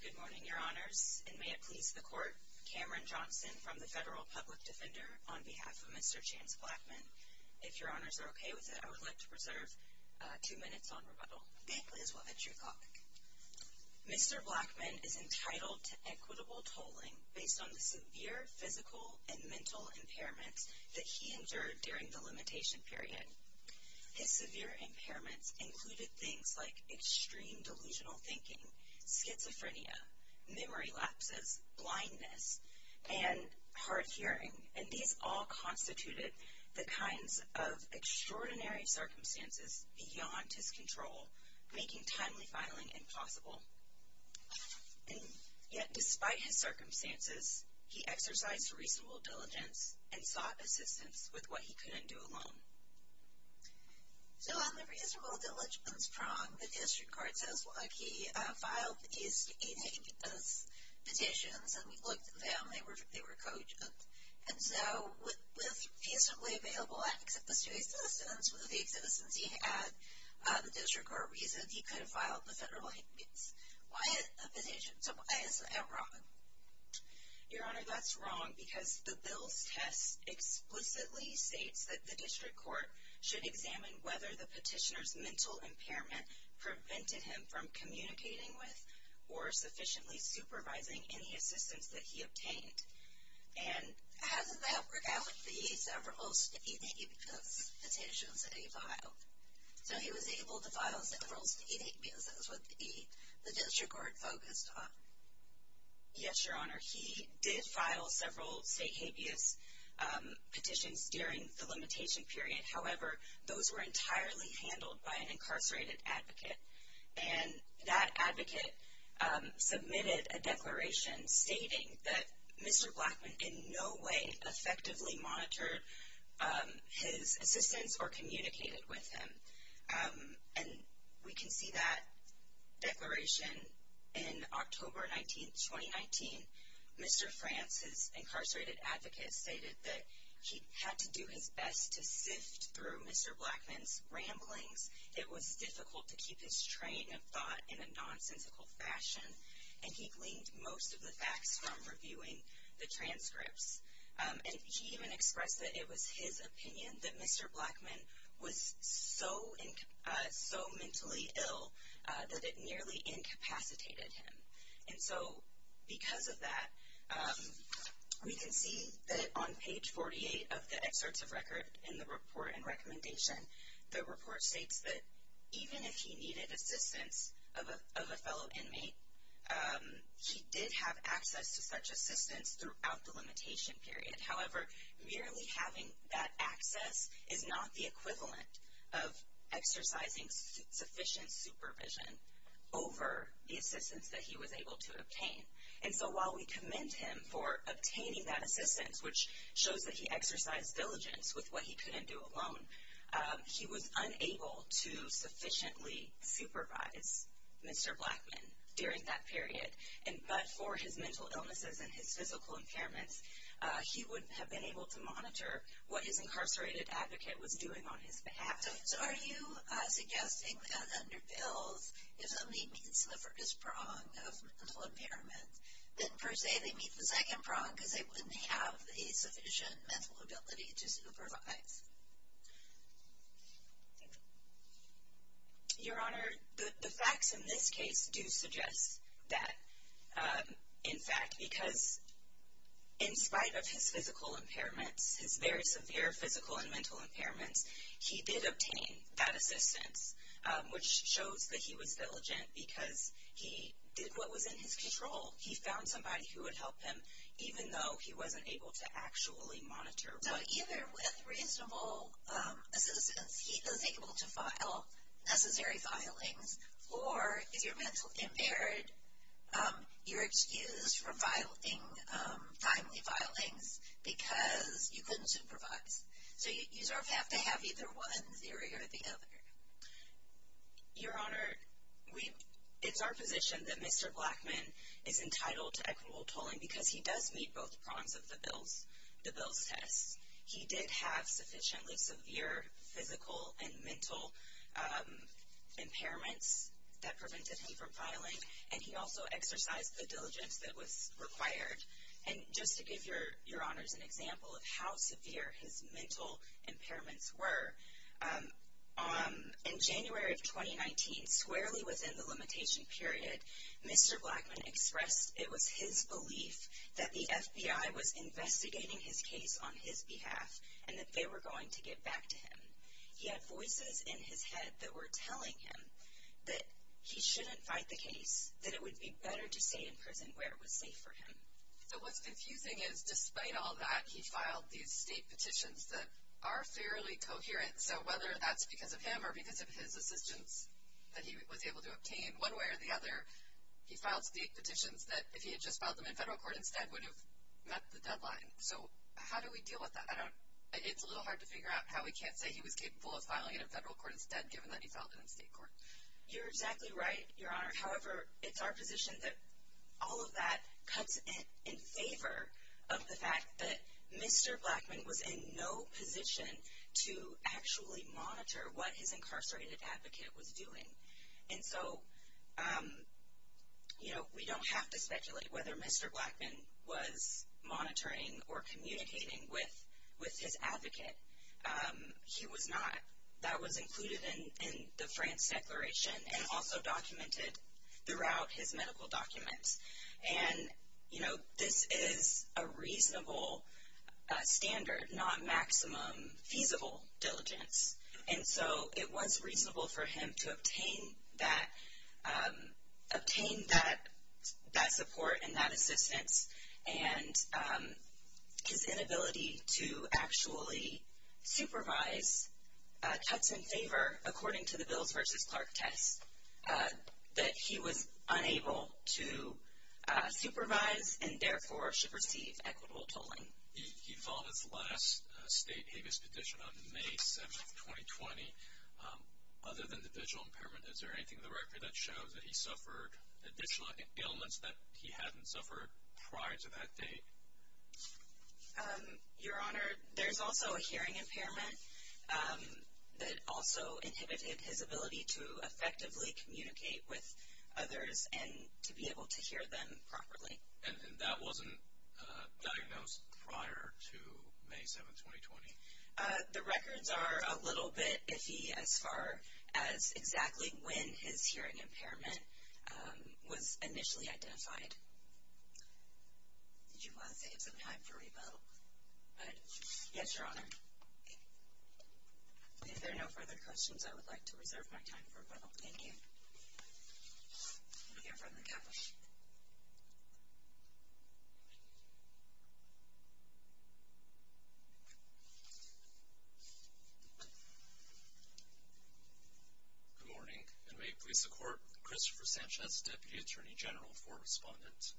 Good morning, Your Honors, and may it please the Court, Cameron Johnson from the Federal Public Defender on behalf of Mr. James Blackman. If Your Honors are okay with it, I would like to preserve two minutes on rebuttal. Thank you, Liz. We'll end your talk. Mr. Blackman is entitled to equitable tolling based on the severe physical and mental impairments that he endured during the limitation period. His severe impairments included things like extreme delusional thinking, schizophrenia, memory lapses, blindness, and hard hearing, and these all constituted the kinds of extraordinary circumstances beyond his control, making timely filing impossible. Yet despite his circumstances, he exercised reasonable diligence and sought assistance with what he couldn't do alone. So on the reasonable diligence prong, the district court says, well, he filed a state aid petition, and we looked at them, they were cogent. And so, with feasibly available access to assistance, with the assistance he had, the district court reasoned he could have filed the federal aid. Why a petition? So why is that wrong? Your Honor, that's wrong because the bill's test explicitly states that the district court should examine whether the petitioner's mental impairment prevented him from communicating with or sufficiently supervising any assistance that he obtained. And how does that work out if he ate several state aid because petitions that he filed? So he was able to file several state aid because that was what the district court focused on? Yes, Your Honor. He did file several state habeas petitions during the limitation period. However, those were entirely handled by an incarcerated advocate. And that advocate submitted a declaration stating that Mr. Blackman in no way effectively monitored his assistance or communicated with him. And we can see that declaration in October 19, 2019. Mr. France's incarcerated advocate stated that he had to do his best to sift through Mr. Blackman's ramblings. It was difficult to keep his train of thought in a nonsensical fashion. And he gleaned most of the facts from reviewing the transcripts. And he even expressed that it was his opinion that Mr. Blackman was so mentally ill that it nearly incapacitated him. And so because of that, we can see that on page 48 of the excerpts of record in the report and recommendation, the report states that even if he needed assistance of a fellow inmate, he did have access to such assistance throughout the limitation period. However, merely having that access is not the equivalent of exercising sufficient supervision over the assistance that he was able to obtain. And so while we commend him for obtaining that assistance, which shows that he exercised diligence with what he couldn't do alone, he was unable to sufficiently supervise Mr. Blackman during that period. But for his record, he wouldn't have been able to monitor what his incarcerated advocate was doing on his behalf. So are you suggesting that under Bill's, if somebody meets the first prong of mental impairment, then per se they meet the second prong because they wouldn't have a sufficient mental ability to supervise? Your Honor, the facts in this case do suggest that, in fact, because in spite of his physical impairments, his very severe physical and mental impairments, he did obtain that assistance, which shows that he was diligent because he did what was in his control. He found somebody who would help him even though he wasn't able to actually monitor. So either with reasonable assistance, he was able to file necessary filings, or if you're mentally impaired, you're excused from filing timely filings because you couldn't supervise. So you sort of have to have either one theory or the other. Your Honor, it's our position that Mr. Blackman is entitled to equitable tolling because he does meet both prongs of the Bill's test. He did have sufficiently severe physical and mental impairments that prevented him from filing, and he also exercised the diligence that was required. And just to give Your Honors an example of how severe his mental impairments were, in January of 2019, squarely within the limitation period, Mr. Blackman expressed it was his belief that the FBI was investigating his case on his behalf and that they were going to get back to him. He had voices in his head that were telling him that he shouldn't fight the case, that it would be better to stay in prison where it was safe for him. So what's confusing is, despite all that, he filed these state petitions that are fairly coherent, so whether that's because of him or because of his assistance that he was able to obtain, one way or the other, he filed state petitions that, if he had just filed them in federal court instead, would have met the deadline. So how do we deal with that? It's a little hard to figure out how we can't say he was capable of filing it in federal court instead, given that he filed it in state court. You're exactly right, Your Honor. However, it's our position that all of that cuts in favor of the fact that Mr. Blackman was in no position to actually monitor what his incarcerated advocate was doing. And so, you know, we don't have to speculate whether Mr. Blackman was monitoring or communicating with his advocate. He was not. That was included in the France Declaration and also documented throughout his medical documents. And, you know, this is a reasonable standard, not maximum feasible diligence. And so it was reasonable for him to obtain that support and that assistance, and his inability to actually supervise cuts in favor, according to the Bills v. Clark test, that he was unable to supervise and therefore should receive equitable tolling. He filed his last state habeas petition on May 7, 2020. Other than the visual impairment, is there anything in the record that shows that he suffered additional ailments that he hadn't suffered prior to that date? Your Honor, there's also a hearing impairment that also inhibited his ability to effectively communicate with others and to be able to hear them properly. And that wasn't diagnosed prior to May 7, 2020? The records are a little bit iffy as far as exactly when his hearing impairment was initially identified. Did you want to save some time for rebuttal? Yes, Your Honor. If there are no further questions, I would like to reserve my time for rebuttal. Thank you. We'll hear from the Counsel. Good morning, and may it please the Court. Christopher Sanchez, Deputy Attorney General for Respondent.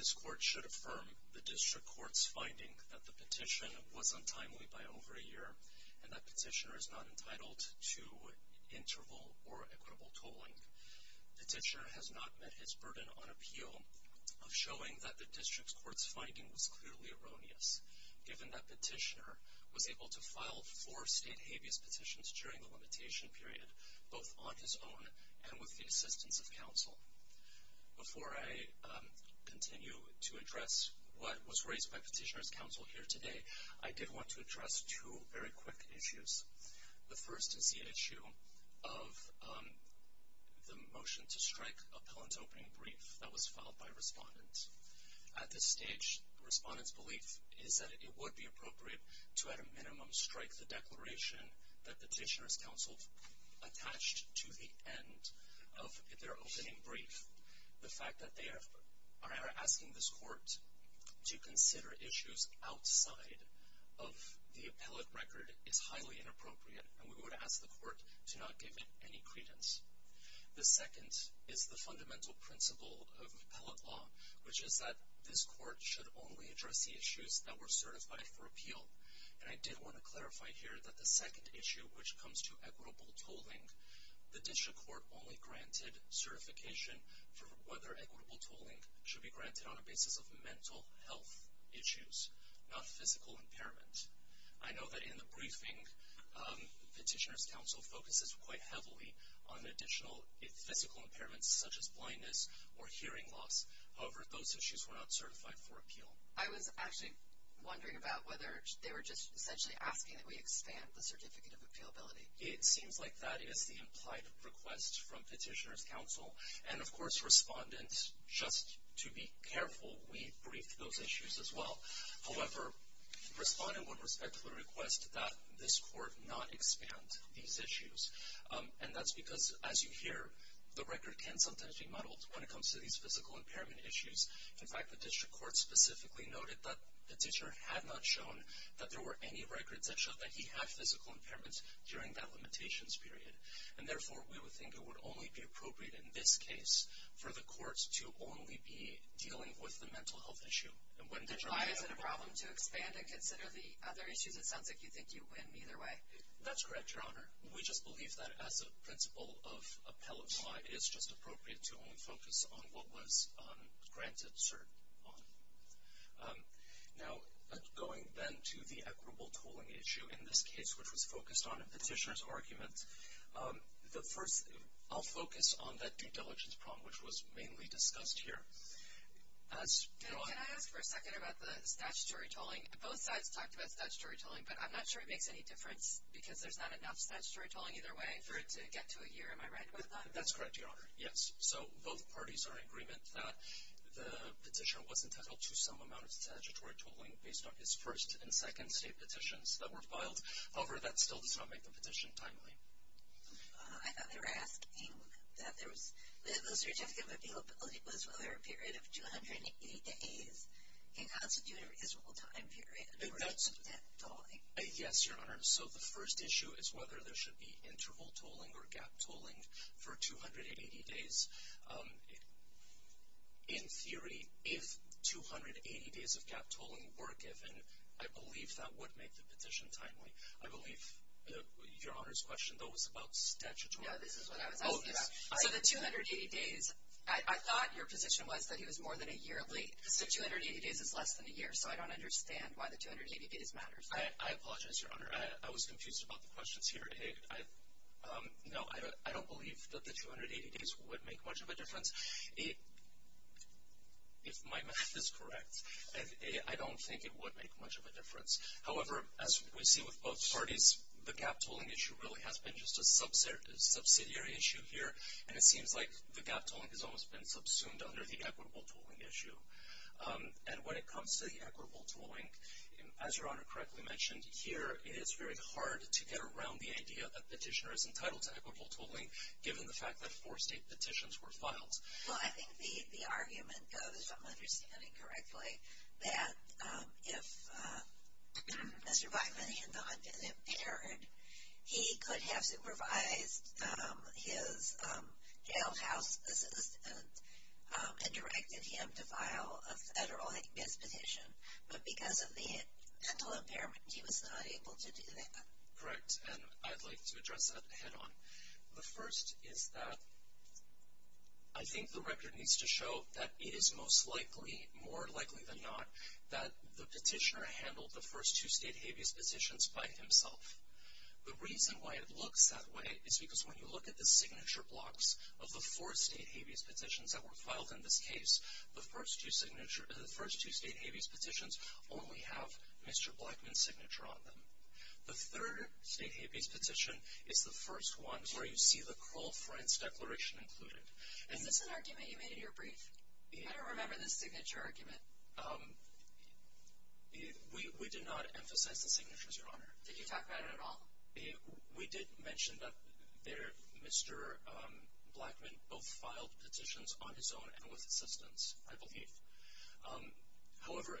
This Court should affirm the District Court's finding that the petition was untimely by over a year, and that petitioner is not entitled to interval or equitable tolling. Petitioner has not met his burden on appeal of showing that the District Court's finding was clearly erroneous, given that petitioner was able to file four state habeas petitions during the limitation period, both on his own and with the assistance of Counsel. Before I continue to address what was raised by Petitioner's Counsel here today, I did want to address two very quick issues. The first is the issue of the motion to strike appellant's opening brief that was filed by Respondent. At this stage, Respondent's belief is that it would be appropriate to at a minimum strike the declaration that Petitioner's Counsel attached to the end of their opening brief. The fact that they are asking this Court to consider issues outside of the appellant record is highly inappropriate, and we would ask the Court to not give it any credence. The second is the fundamental principle of appellate law, which is that this Court should only address the issues that were certified for appeal. And I did want to clarify here that the second issue, which comes to equitable tolling, the District Court only granted certification for whether equitable tolling should be granted on a basis of mental health issues, not physical impairment. I know that in the briefing, Petitioner's Counsel focuses quite heavily on additional physical impairments such as blindness or hearing loss. However, those issues were not certified for appeal. I was actually wondering about whether they were just essentially asking that we expand the certificate of appealability. It seems like that is the implied request from Petitioner's Counsel. And, of course, Respondent, just to be careful, we briefed those issues as well. However, Respondent would respectfully request that this Court not expand these issues. And that's because, as you hear, the record can sometimes be muddled when it comes to these physical impairment issues. In fact, the District Court specifically noted that Petitioner had not shown that there were any records that showed that he had physical impairments during that limitations period. And, therefore, we would think it would only be appropriate in this case for the Court to only be dealing with the mental health issue. Why is it a problem to expand and consider the other issues? It sounds like you think you win either way. That's correct, Your Honor. We just believe that as a principle of appellate law, it is just appropriate to only focus on what was granted cert on. Now, going then to the equitable tolling issue in this case, which was focused on Petitioner's argument, I'll focus on that due diligence problem, which was mainly discussed here. Can I ask for a second about the statutory tolling? Both sides talked about statutory tolling, but I'm not sure it makes any difference because there's not enough statutory tolling either way for it to get to a year. Am I right about that? That's correct, Your Honor. Yes. So, both parties are in agreement that the petitioner was entitled to some amount of statutory tolling based on his first and second state petitions that were filed. However, that still does not make the petition timely. I thought they were asking that the certificate of appealability was whether a period of 280 days can constitute a reasonable time period for that tolling. Yes, Your Honor. So, the first issue is whether there should be interval tolling or gap tolling for 280 days. In theory, if 280 days of gap tolling were given, I believe that would make the petition timely. I believe Your Honor's question, though, was about statutory tolling. No, this is what I was asking about. So, the 280 days, I thought your position was that he was more than a year late. So, 280 days is less than a year, so I don't understand why the 280 days matters. I apologize, Your Honor. I was confused about the questions here. No, I don't believe that the 280 days would make much of a difference. If my math is correct, I don't think it would make much of a difference. However, as we see with both parties, the gap tolling issue really has been just a subsidiary issue here, and it seems like the gap tolling has almost been subsumed under the equitable tolling issue. And when it comes to the equitable tolling, as Your Honor correctly mentioned, here it is very hard to get around the idea that a petitioner is entitled to equitable tolling given the fact that four state petitions were filed. Well, I think the argument goes, if I'm understanding correctly, that if Mr. Blackman had not been impaired, he could have supervised his jailhouse assistant and directed him to file a federal hate speech petition. But because of the mental impairment, he was not able to do that. Correct. And I'd like to address that head on. The first is that I think the record needs to show that it is most likely, more likely than not, that the petitioner handled the first two state habeas petitions by himself. The reason why it looks that way is because when you look at the signature blocks of the four state habeas petitions that were filed in this case, the first two state habeas petitions only have Mr. Blackman's signature on them. The third state habeas petition is the first one where you see the cruel friends declaration included. Is this an argument you made in your brief? I don't remember the signature argument. We did not emphasize the signatures, Your Honor. Did you talk about it at all? We did mention that Mr. Blackman both filed petitions on his own and with assistance, I believe. However,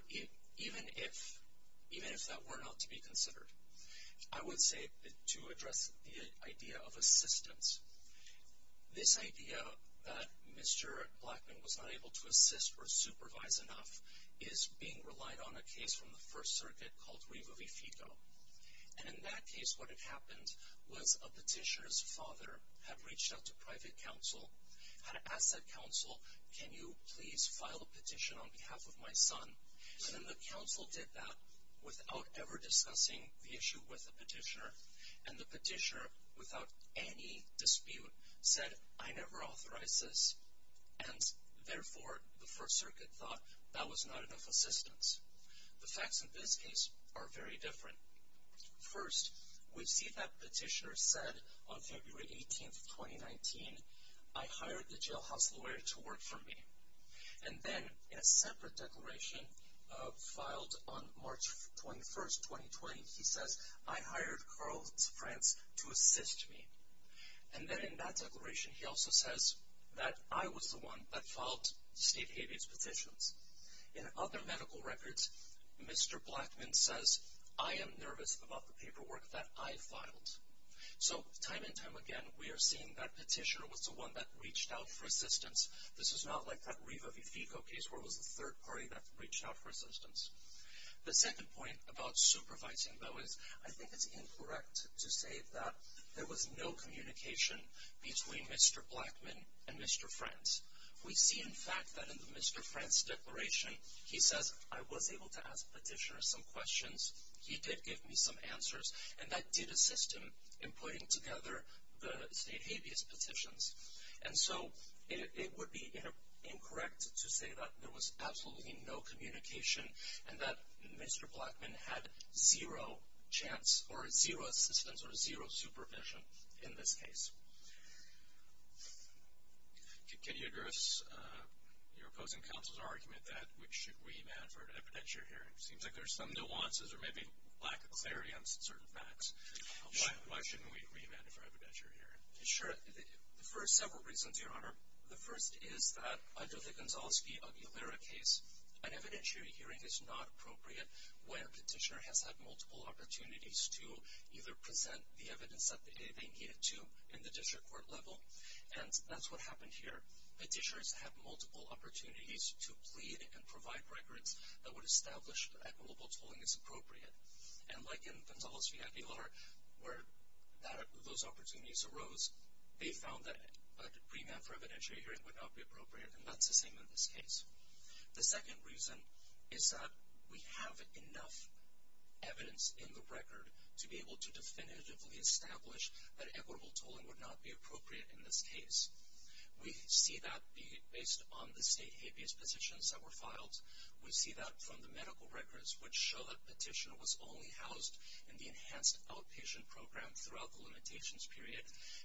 even if that were not to be considered, I would say to address the idea of assistance, this idea that Mr. Blackman was not able to assist or supervise enough is being relied on a case from the First Circuit called Rivovifigo. And in that case, what had happened was a petitioner's father had reached out to private counsel, had asked that counsel, can you please file a petition on behalf of my son? And then the counsel did that without ever discussing the issue with the petitioner. And the petitioner, without any dispute, said, I never authorized this. And therefore, the First Circuit thought that was not enough assistance. The facts in this case are very different. First, we see that petitioner said on February 18th, 2019, I hired the jailhouse lawyer to work for me. And then in a separate declaration filed on March 21st, 2020, he says, I hired Carl Franz to assist me. And then in that declaration, he also says that I was the one that filed Steve Habeas' petitions. In other medical records, Mr. Blackman says, I am nervous about the paperwork that I filed. So time and time again, we are seeing that petitioner was the one that reached out for assistance. This is not like that Rivovifigo case where it was the third party that reached out for assistance. The second point about supervising, though, is I think it's incorrect to say that there was no communication between Mr. Blackman and Mr. Franz. We see, in fact, that in Mr. Franz' declaration, he says, I was able to ask petitioner some questions. He did give me some answers. And that did assist him in putting together the Steve Habeas' petitions. And so it would be incorrect to say that there was absolutely no communication and that Mr. Blackman had zero chance or zero assistance or zero supervision in this case. Can you address your opposing counsel's argument that we should remand for an evidentiary hearing? It seems like there's some nuances or maybe lack of clarity on certain facts. Why shouldn't we remand it for an evidentiary hearing? Sure. For several reasons, Your Honor. The first is that under the Gonzalski-Aguilera case, an evidentiary hearing is not appropriate when petitioner has had multiple opportunities to either present the evidence that they've indicated to in the district court level. And that's what happened here. Petitioners have multiple opportunities to plead and provide records that would establish that equitable tolling is appropriate. And like in Gonzalski-Aguilera, where those opportunities arose, they found that a remand for evidentiary hearing would not be appropriate. And that's the same in this case. The second reason is that we have enough evidence in the record to be able to definitively establish that equitable tolling would not be appropriate in this case. We see that based on the state habeas petitions that were filed. We see that from the medical records, which show that petitioner was only housed in the enhanced outpatient program throughout the limitations period.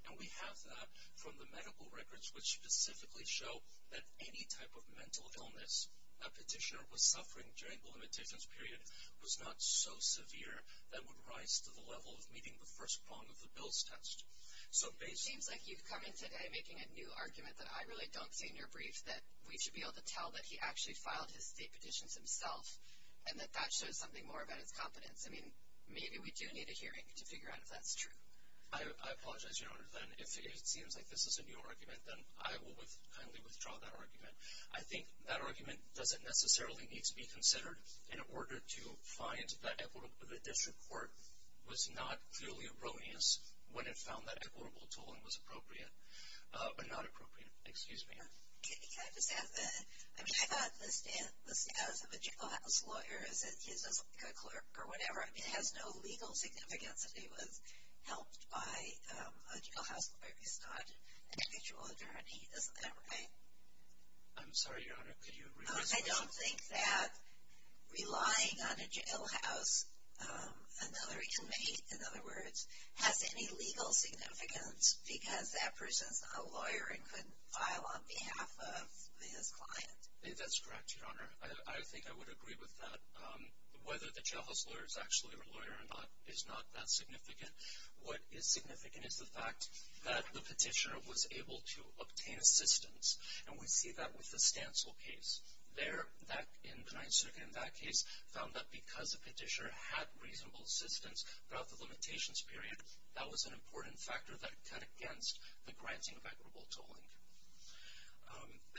And we have that from the medical records, which specifically show that any type of mental illness a petitioner was suffering during the limitations period was not so severe that would rise to the level of meeting the first prong of the Bill's test. So basically... It seems like you've come in today making a new argument that I really don't see in your brief, that we should be able to tell that he actually filed his state petitions himself and that that shows something more about his competence. I mean, maybe we do need a hearing to figure out if that's true. I apologize, Your Honor. If it seems like this is a new argument, then I will kindly withdraw that argument. I think that argument doesn't necessarily need to be considered in order to find that the district court was not clearly erroneous when it found that equitable tolling was appropriate. But not appropriate. Excuse me. Can I just add to that? I mean, I thought the status of a jailhouse lawyer is that he's just a clerk or whatever. It has no legal significance that he was helped by a jailhouse lawyer. He's not an actual attorney. Isn't that right? I'm sorry, Your Honor. Could you rephrase that? I don't think that relying on a jailhouse, another inmate, in other words, has any legal significance because that person's not a lawyer and couldn't file on behalf of his client. That's correct, Your Honor. I think I would agree with that. Whether the jailhouse lawyer is actually a lawyer or not is not that significant. What is significant is the fact that the petitioner was able to obtain assistance, and we see that with the Stancil case. There, in the Ninth Circuit in that case, found that because the petitioner had reasonable assistance throughout the limitations period, that was an important factor that cut against the granting of equitable tolling.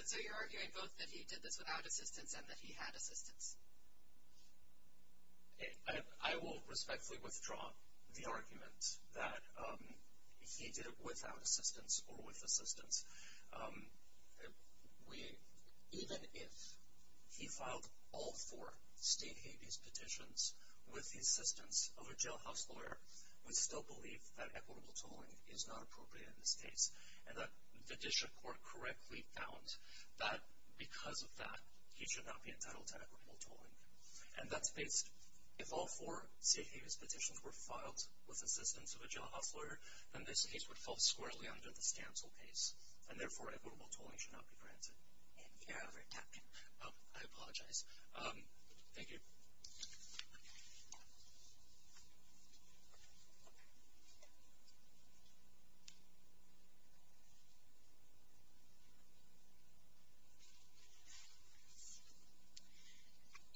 So you're arguing both that he did this without assistance and that he had assistance? I will respectfully withdraw the argument that he did it without assistance or with assistance. Even if he filed all four state habeas petitions with the assistance of a jailhouse lawyer, we still believe that equitable tolling is not appropriate in this case. And the district court correctly found that because of that, he should not be entitled to equitable tolling. And that's based, if all four state habeas petitions were filed with assistance of a jailhouse lawyer, then this case would fall squarely under the Stancil case, and therefore equitable tolling should not be granted. Thank you, Your Honor. I apologize. Thank you.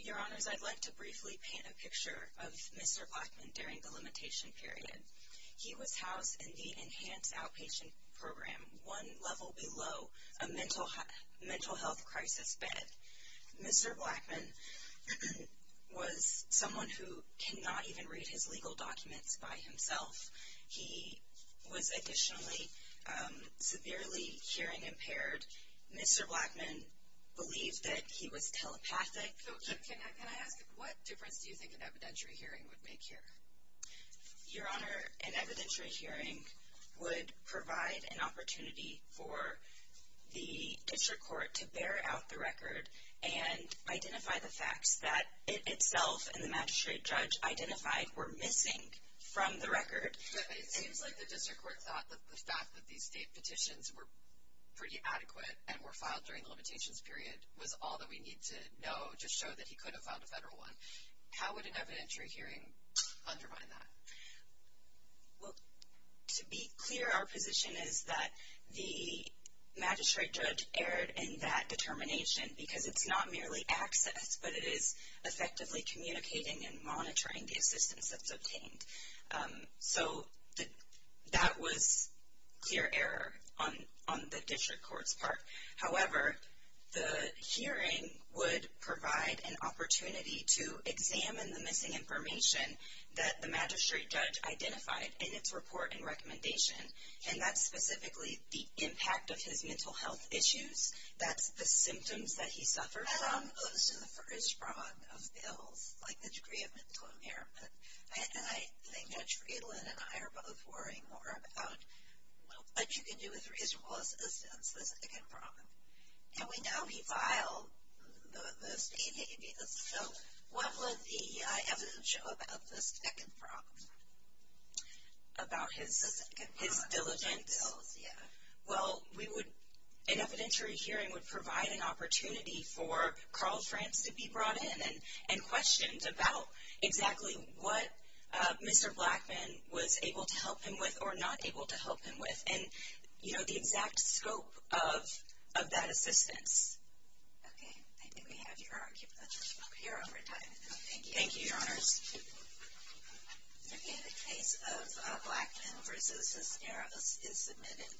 Your Honors, I'd like to briefly paint a picture of Mr. Blackman during the limitation period. He was housed in the Enhanced Outpatient Program, one level below a mental health crisis bed. Mr. Blackman was someone who cannot even read his legal documents by himself. He was additionally severely hearing impaired. Mr. Blackman believed that he was telepathic. Can I ask, what difference do you think an evidentiary hearing would make here? Your Honor, an evidentiary hearing would provide an opportunity for the district court to bear out the record and identify the facts that it itself and the magistrate judge identified were missing from the record. It seems like the district court thought that the fact that these state petitions were pretty adequate and were filed during the limitations period was all that we need to know to show that he could have filed a federal one. How would an evidentiary hearing undermine that? Well, to be clear, our position is that the magistrate judge erred in that determination because it's not merely access, but it is effectively communicating and monitoring the assistance that's obtained. So that was clear error on the district court's part. However, the hearing would provide an opportunity to examine the missing information that the magistrate judge identified in its report and recommendation, and that's specifically the impact of his mental health issues. That's the symptoms that he suffered from. And I'm close to the first prong of bills, like the degree of mental impairment. And I think Judge Friedland and I are both worrying more about, well, what you can do with reasonable assistance, the second prong. And we know he filed the state hate appeals. So what would the EI evidence show about this second prong? About his diligence? His diligence, yeah. Well, an evidentiary hearing would provide an opportunity for Carl Franz to be brought in and questioned about exactly what Mr. Blackman was able to help him with or not able to help him with and, you know, the exact scope of that assistance. Okay. I think we have your argument up here over time. Thank you. Thank you, Your Honors. Okay, the case of Blackman v. Esmeralda is submitted.